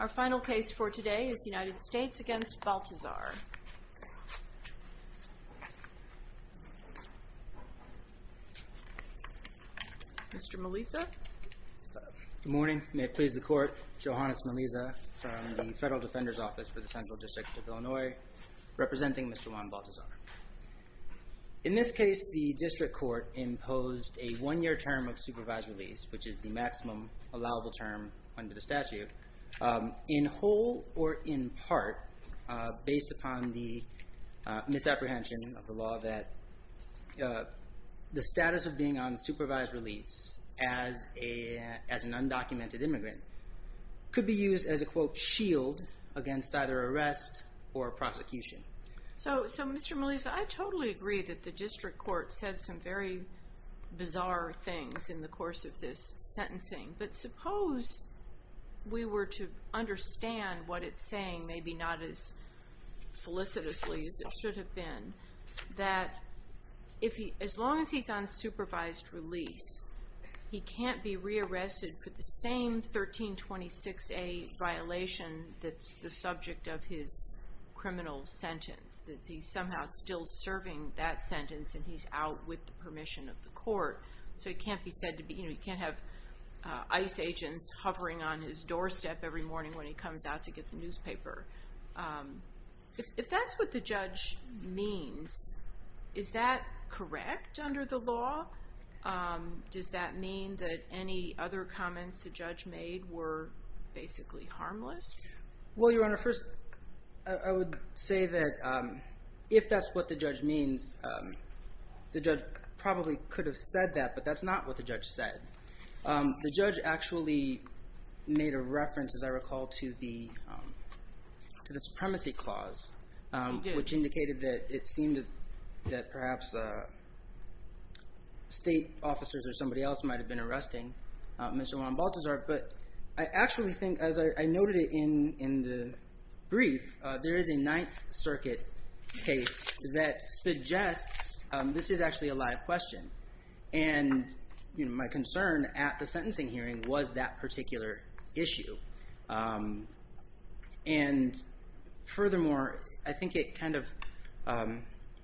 Our final case for today is United States against Baltazar. Mr. Melisa. Good morning, may it please the court, Johannes Melisa from the Federal Defender's Office for the Central District of Illinois, representing Mr. Juan Baltazar. In this case, the district court imposed a one-year term of supervised release, which is the maximum allowable term under the statute, in whole or in part based upon the misapprehension of the law that the status of being on supervised release as an undocumented immigrant could be used as a, quote, shield against either arrest or prosecution. So, Mr. Melisa, I totally agree that the district court said some very bizarre things in the course of this sentencing, but suppose we were to understand what it's saying, maybe not as felicitously as it should have been, that as long as he's on supervised release, he can't be rearrested for the same 1326A violation that's the subject of his criminal sentence, that he's somehow still serving that sentence and he's out with the permission of the court. So he can't be said to be, you know, he can't have ICE agents hovering on his doorstep every morning when he comes out to get the newspaper. If that's what the judge means, is that correct under the law? Does that mean that any other comments the judge made were basically harmless? Well, Your Honor, first, I would say that if that's what the judge means, the judge probably could have said that, but that's not what the judge said. The judge actually made a reference, as I recall, to the supremacy clause, which indicated that it seemed that perhaps state officers or somebody else might have been arresting Mr. Juan Balthazar, but I actually think, as I noted in the brief, there is a Ninth Circuit case that suggests, this is actually a live question, and my concern at the sentencing hearing was that particular issue. And furthermore, I think it kind of,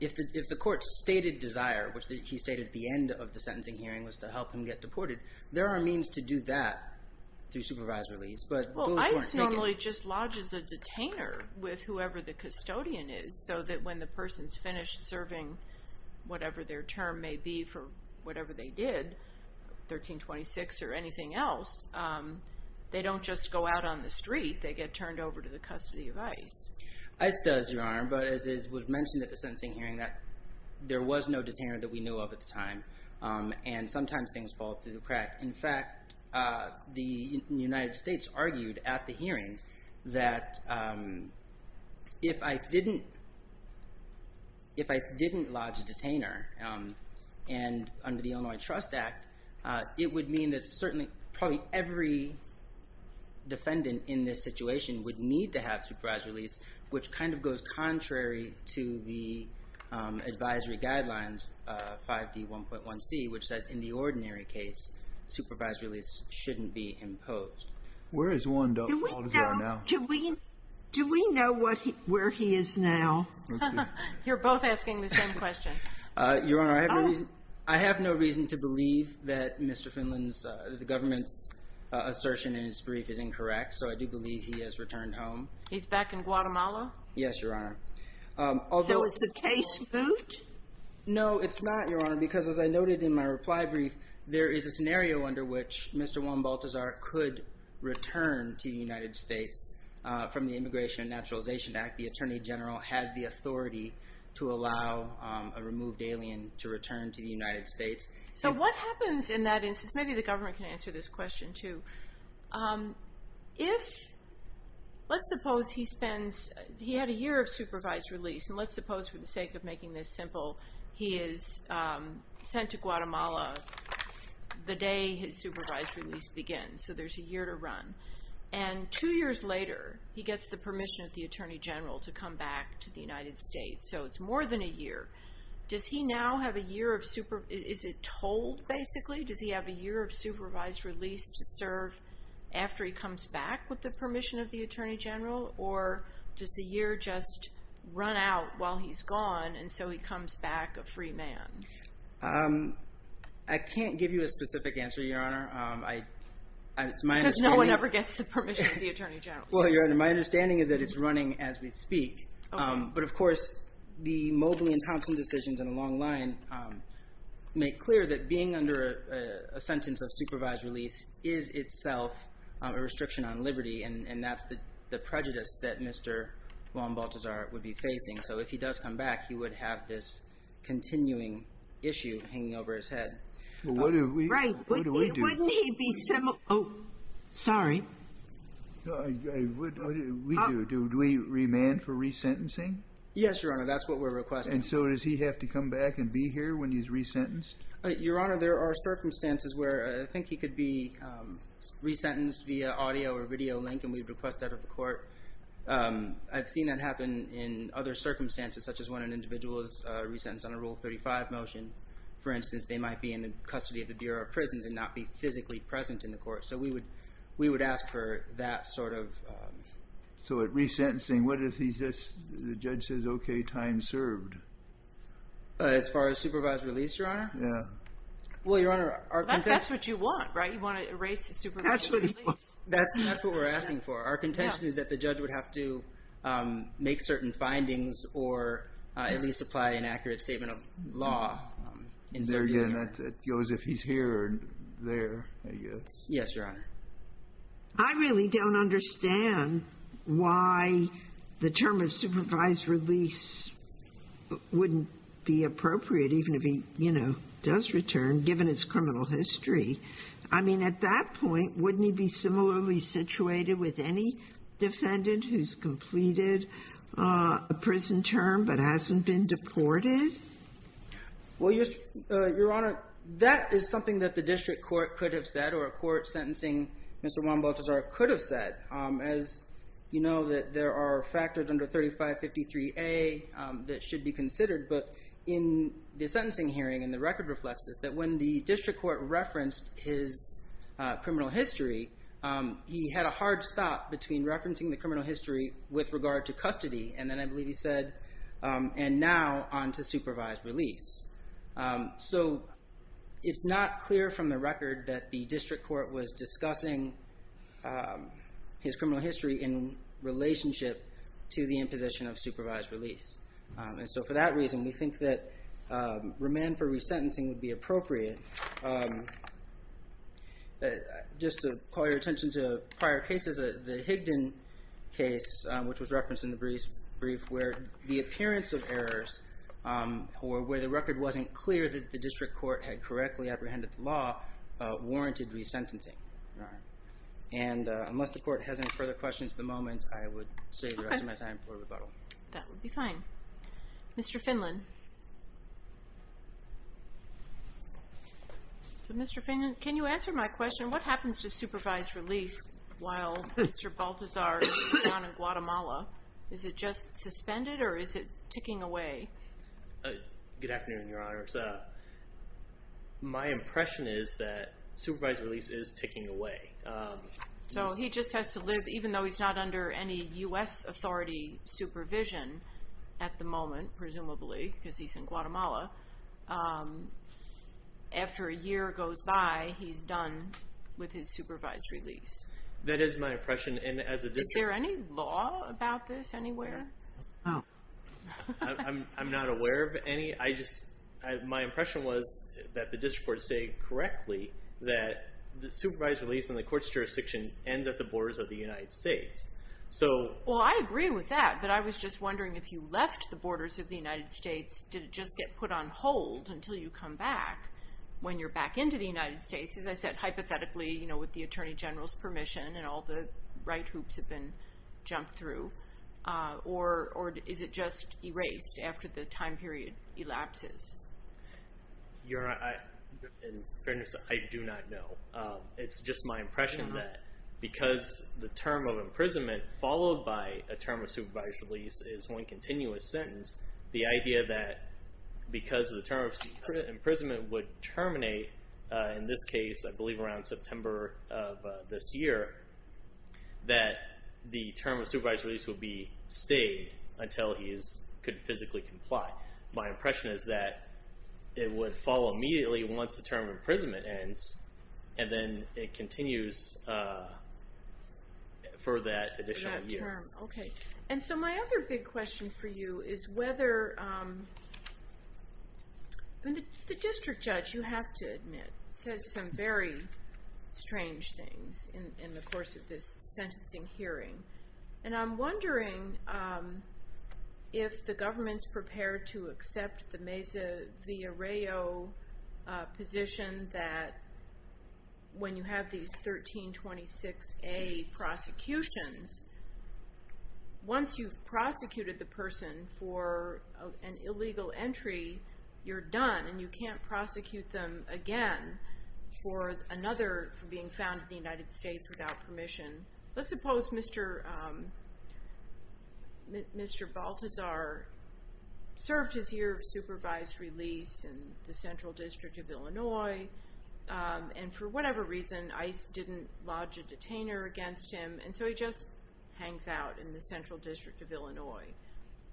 if the court stated desire, which he stated at the end of the sentencing hearing was to help him get deported, there are means to do that through supervised release, but... Well, ICE normally just lodges a detainer with whoever the custodian is, so that when the person's finished serving, whatever their term may be for whatever they did, 1326 or anything else, they don't just go out on the street, they get turned over to the custody of ICE. ICE does, Your Honor, but as was mentioned at the sentencing hearing, that there was no detainer that we knew of at the time, and sometimes things fall through the crack. In fact, the United States argued at the hearing that if ICE didn't lodge a detainer, and under the Illinois Trust Act, it would mean that certainly probably every defendant in this situation would need to have supervised release, which kind of goes contrary to the advisory guidelines, 5D1.1c, which says in the ordinary case, supervised release shouldn't be imposed. Where is Wanda? Do we know where he is now? You're both asking the same question. Your Honor, I have no reason to believe that Mr. Finland's, the government's assertion in his brief is incorrect, so I do believe he has returned home. He's back in Guatemala? Yes, Your Honor. Although it's a case moot? No, it's not, Your Honor, because as I noted in my reply brief, there is a scenario under which Mr. Juan Baltazar could return to the United States from the Immigration and Naturalization Act. The Attorney General has the authority to allow a removed alien to return to the United States. So what happens in that instance? Maybe the government can answer this question too. If, let's suppose he spends, he had a year of supervised release, and let's suppose for the sake of making this simple, he is sent to Guatemala the day his supervised release begins, so there's a year to run. And two years later, he gets the permission of the Attorney General to come back to the United States, so it's more than a year. Does he now have a year of, is it told basically? Does he have a year of supervised release to serve after he comes back with the permission of the Attorney General? Or does the year just run out while he's gone, and so he comes back a free man? I can't give you a specific answer, Your Honor. Because no one ever gets the permission of the Attorney General. Well, Your Honor, my understanding is that it's running as we speak. But of course, the Mobley and Thompson decisions in the long line make clear that being under a sentence of supervised release is itself a restriction on liberty, and that's the prejudice that Mr. Juan Balthazar would be facing. So if he does come back, he would have this continuing issue hanging over his head. Well, what do we do? Right. Wouldn't he be similar? Oh, sorry. No, I wouldn't. What do we do? Do we remand for resentencing? Yes, Your Honor, that's what we're requesting. And so does he have to come back and be here when he's resentenced? Your Honor, there are circumstances where I think he could be resentenced via audio or video link, and we'd request that of the court. I've seen that happen in other circumstances, such as when an individual is resentenced on a Rule 35 motion. For instance, they might be in the custody of the Bureau of that sort of... So at resentencing, what if the judge says, okay, time served? As far as supervised release, Your Honor? Yeah. Well, Your Honor, our contention... That's what you want, right? You want to erase the supervised release. That's what we're asking for. Our contention is that the judge would have to make certain findings or at least apply an accurate statement of law. There again, it goes if he's here or there, I guess. Yes, Your Honor. I really don't understand why the term of supervised release wouldn't be appropriate, even if he, you know, does return, given his criminal history. I mean, at that point, wouldn't he be similarly situated with any defendant who's completed a prison term but hasn't been deported? Well, Your Honor, that is something that the district court could have said or a court sentencing Mr. Juan Balthazar could have said. As you know, that there are factors under 3553A that should be considered. But in the sentencing hearing, and the record reflects this, that when the district court referenced his criminal history, he had a hard stop between referencing the criminal history with regard to custody. And then I believe he said, and now on to supervised release. So it's not clear from the record that the district court was discussing his criminal history in relationship to the imposition of supervised release. And so for that reason, we think that remand for resentencing would be appropriate. Just to call your attention to prior cases, the Higdon case, which was referenced in the brief where the appearance of errors, or where the record wasn't clear that the district court had correctly apprehended the law, warranted resentencing. And unless the court has any further questions at the moment, I would save the rest of my time for rebuttal. That would be fine. Mr. Finland. So Mr. Finland, can you answer my question? What happens to supervised release while Mr. Baltazar is down in Guatemala? Is it just suspended, or is it ticking away? Good afternoon, Your Honors. My impression is that supervised release is ticking away. So he just has to live, even though he's not under any U.S. authority supervision at the moment, presumably, because he's in Guatemala. After a year goes by, he's done with his supervised release. That is my impression, and as a district... Is there any law about this anywhere? I'm not aware of any. I just, my impression was that the district courts say correctly that the supervised release in the court's jurisdiction ends at the borders of the United States. So... Well, I agree with that, but I was just wondering if you left the borders of the United States, did it just get put on hold until you come back? When you're back into the United States, as I said, hypothetically, you know, with the Attorney General's permission and all the right hoops have been jumped through, or is it just erased after the time period elapses? Your Honor, in fairness, I do not know. It's just my impression that because the term of because the term of imprisonment would terminate, in this case, I believe around September of this year, that the term of supervised release would be stayed until he could physically comply. My impression is that it would follow immediately once the term of imprisonment ends, and then it continues for that additional year. Okay, and so my other big question for you is whether... The district judge, you have to admit, says some very strange things in the course of this sentencing hearing, and I'm wondering if the government's prepared to accept the Mesa 1526A prosecutions. Once you've prosecuted the person for an illegal entry, you're done, and you can't prosecute them again for another, for being found in the United States without permission. Let's suppose Mr. Baltazar served his year of supervised release in the Central District of Illinois, and for whatever reason, ICE didn't lodge a detainer against him, and so he just hangs out in the Central District of Illinois,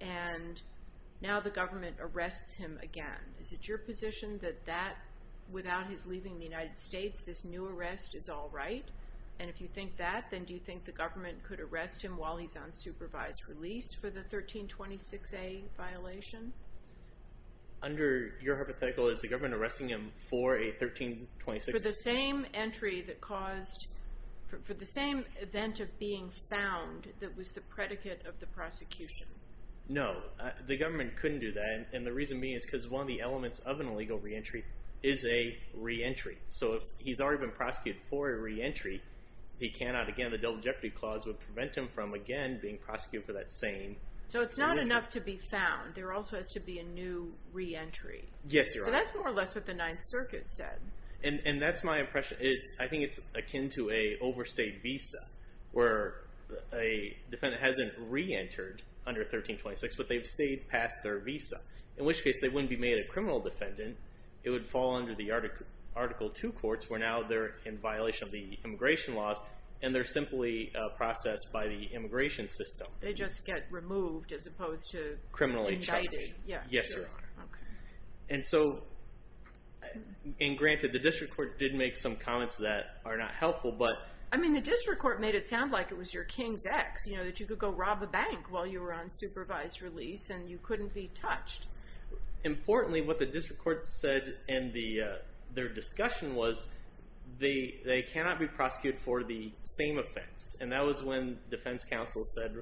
and now the government arrests him again. Is it your position that without his leaving the United States, this new arrest is all right? And if you think that, then do you think the government could arrest him while he's on supervised release for the 1326A violation? Under your hypothetical, is the government arresting him for a 1326A? For the same entry that caused, for the same event of being found that was the predicate of the prosecution. No, the government couldn't do that, and the reason being is because one of the elements of an illegal re-entry is a re-entry. So if he's already been prosecuted for a re-entry, he cannot, again, the Double Jeopardy Clause would prevent him from, again, being found for that same re-entry. So it's not enough to be found. There also has to be a new re-entry. Yes, you're right. So that's more or less what the Ninth Circuit said. And that's my impression. I think it's akin to an overstayed visa, where a defendant hasn't re-entered under 1326, but they've stayed past their visa, in which case they wouldn't be made a criminal defendant. It would fall under the Article II courts, where now they're in violation of the immigration laws, and they're simply processed by the immigration system. They just get removed as opposed to- Criminally chided. Yes, Your Honor. Okay. And so, and granted, the District Court did make some comments that are not helpful, but- I mean, the District Court made it sound like it was your king's ex, that you could go rob a bank while you were on supervised release, and you couldn't be touched. Importantly, what the District Court said in their discussion was, they cannot be And that was when defense counsel said,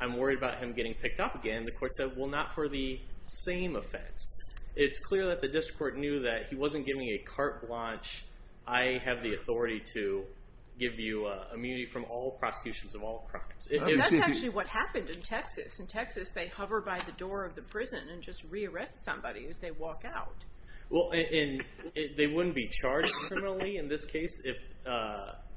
I'm worried about him getting picked up again. The court said, well, not for the same offense. It's clear that the District Court knew that he wasn't giving a carte blanche, I have the authority to give you immunity from all prosecutions of all crimes. That's actually what happened in Texas. In Texas, they hover by the door of the prison and just re-arrest somebody as they walk out. Well, and they wouldn't be charged criminally in this case if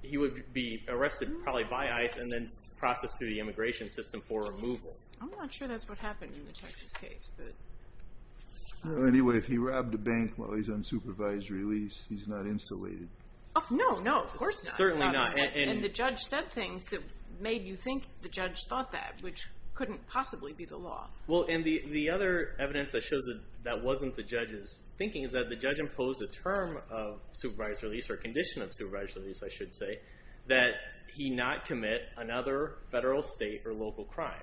he would be arrested probably by ICE and then processed through the immigration system for removal. I'm not sure that's what happened in the Texas case, but- Anyway, if he robbed a bank while he's on supervised release, he's not insulated. Oh, no, no. Of course not. Certainly not. And the judge said things that made you think the judge thought that, which couldn't possibly be the law. Well, and the other evidence that shows that wasn't the judge's thinking is that the judge imposed a term of supervised release, or condition of supervised release, I should say, that he not commit another federal, state, or local crime.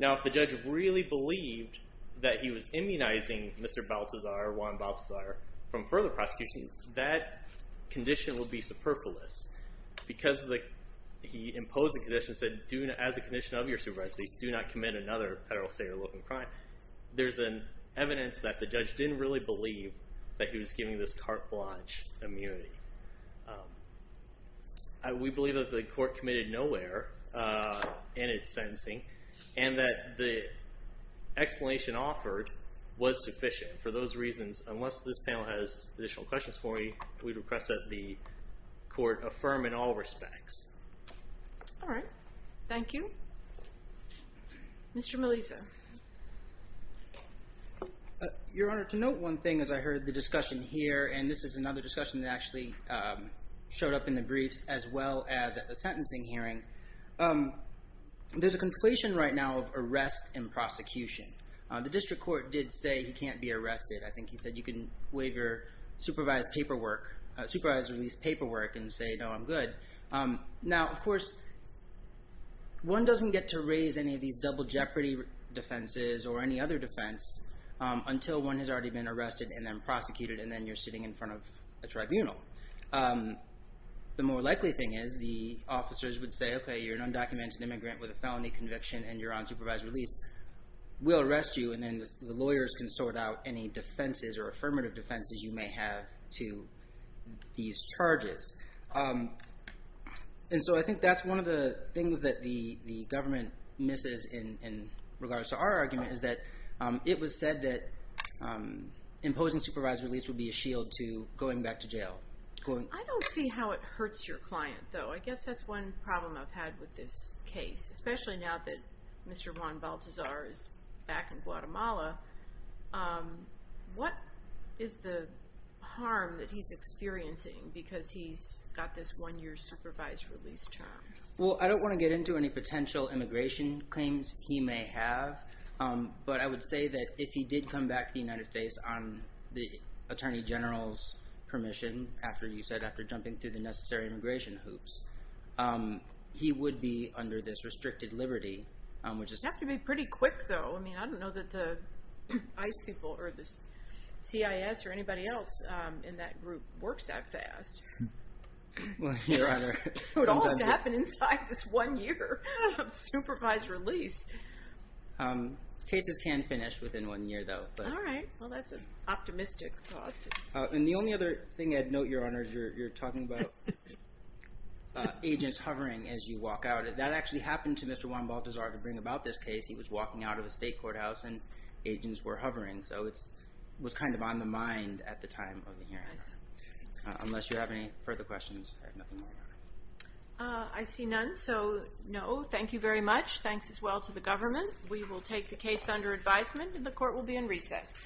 Now, if the judge really believed that he was immunizing Mr. Baltazar, Juan Baltazar, from further prosecution, that condition would be superfluous. Because he imposed the condition, said, as a condition of your supervised release, do not commit another federal, state, or local crime. There's an evidence that the judge didn't really believe that he was giving this cartilage immunity. We believe that the court committed nowhere in its sentencing and that the explanation offered was sufficient. For those reasons, unless this panel has additional questions for me, we'd request that the court affirm in all respects. All right. Thank you. Mr. Melisa. Your Honor, to note one thing as I heard the discussion here, and this is another discussion that actually showed up in the briefs as well as at the sentencing hearing. There's a conflation right now of arrest and prosecution. The district court did say he can't be arrested. I think he said you can waive your supervised release paperwork and say, no, I'm good. Now, of course, one doesn't get to raise any of these double jeopardy defenses or any other defense until one has already been arrested and then prosecuted and then you're sitting in front of a tribunal. The more likely thing is the officers would say, okay, you're an undocumented immigrant with a felony conviction and you're on supervised release. We'll arrest you and then the lawyers can sort out any defenses or affirmative defenses you may have to these charges. I think that's one of the things that the government misses in regards to our argument is that it was said that imposing supervised release would be a shield to going back to jail. I don't see how it hurts your client though. I guess that's one problem I've had with this case, especially now that Mr. Juan Baltazar is back in Guatemala. What is the harm that he's experiencing because he's got this one year supervised release term? Well, I don't want to get into any potential immigration claims he may have, but I would say that if he did come back to the United States on the attorney general's permission, after you said, after jumping through the necessary immigration hoops, he would be under this restricted liberty, which is... It'd have to be pretty quick though. I mean, I don't know that the ICE people or the CIS or anybody else in that group works that fast. It would all have to happen inside this one year of supervised release. Cases can finish within one year though. All right. Well, that's an optimistic thought. And the only other thing I'd note, Your Honor, is you're talking about agents hovering as you walk out. That actually happened to Mr. Juan Baltazar to bring about this case. He was walking out of a state courthouse and agents were hovering. So it was kind of on the mind at the time of the hearing. Unless you have any further questions. I see none. So no, thank you very much. Thanks as well to the government. We will take the case under advisement and the court will be in recess.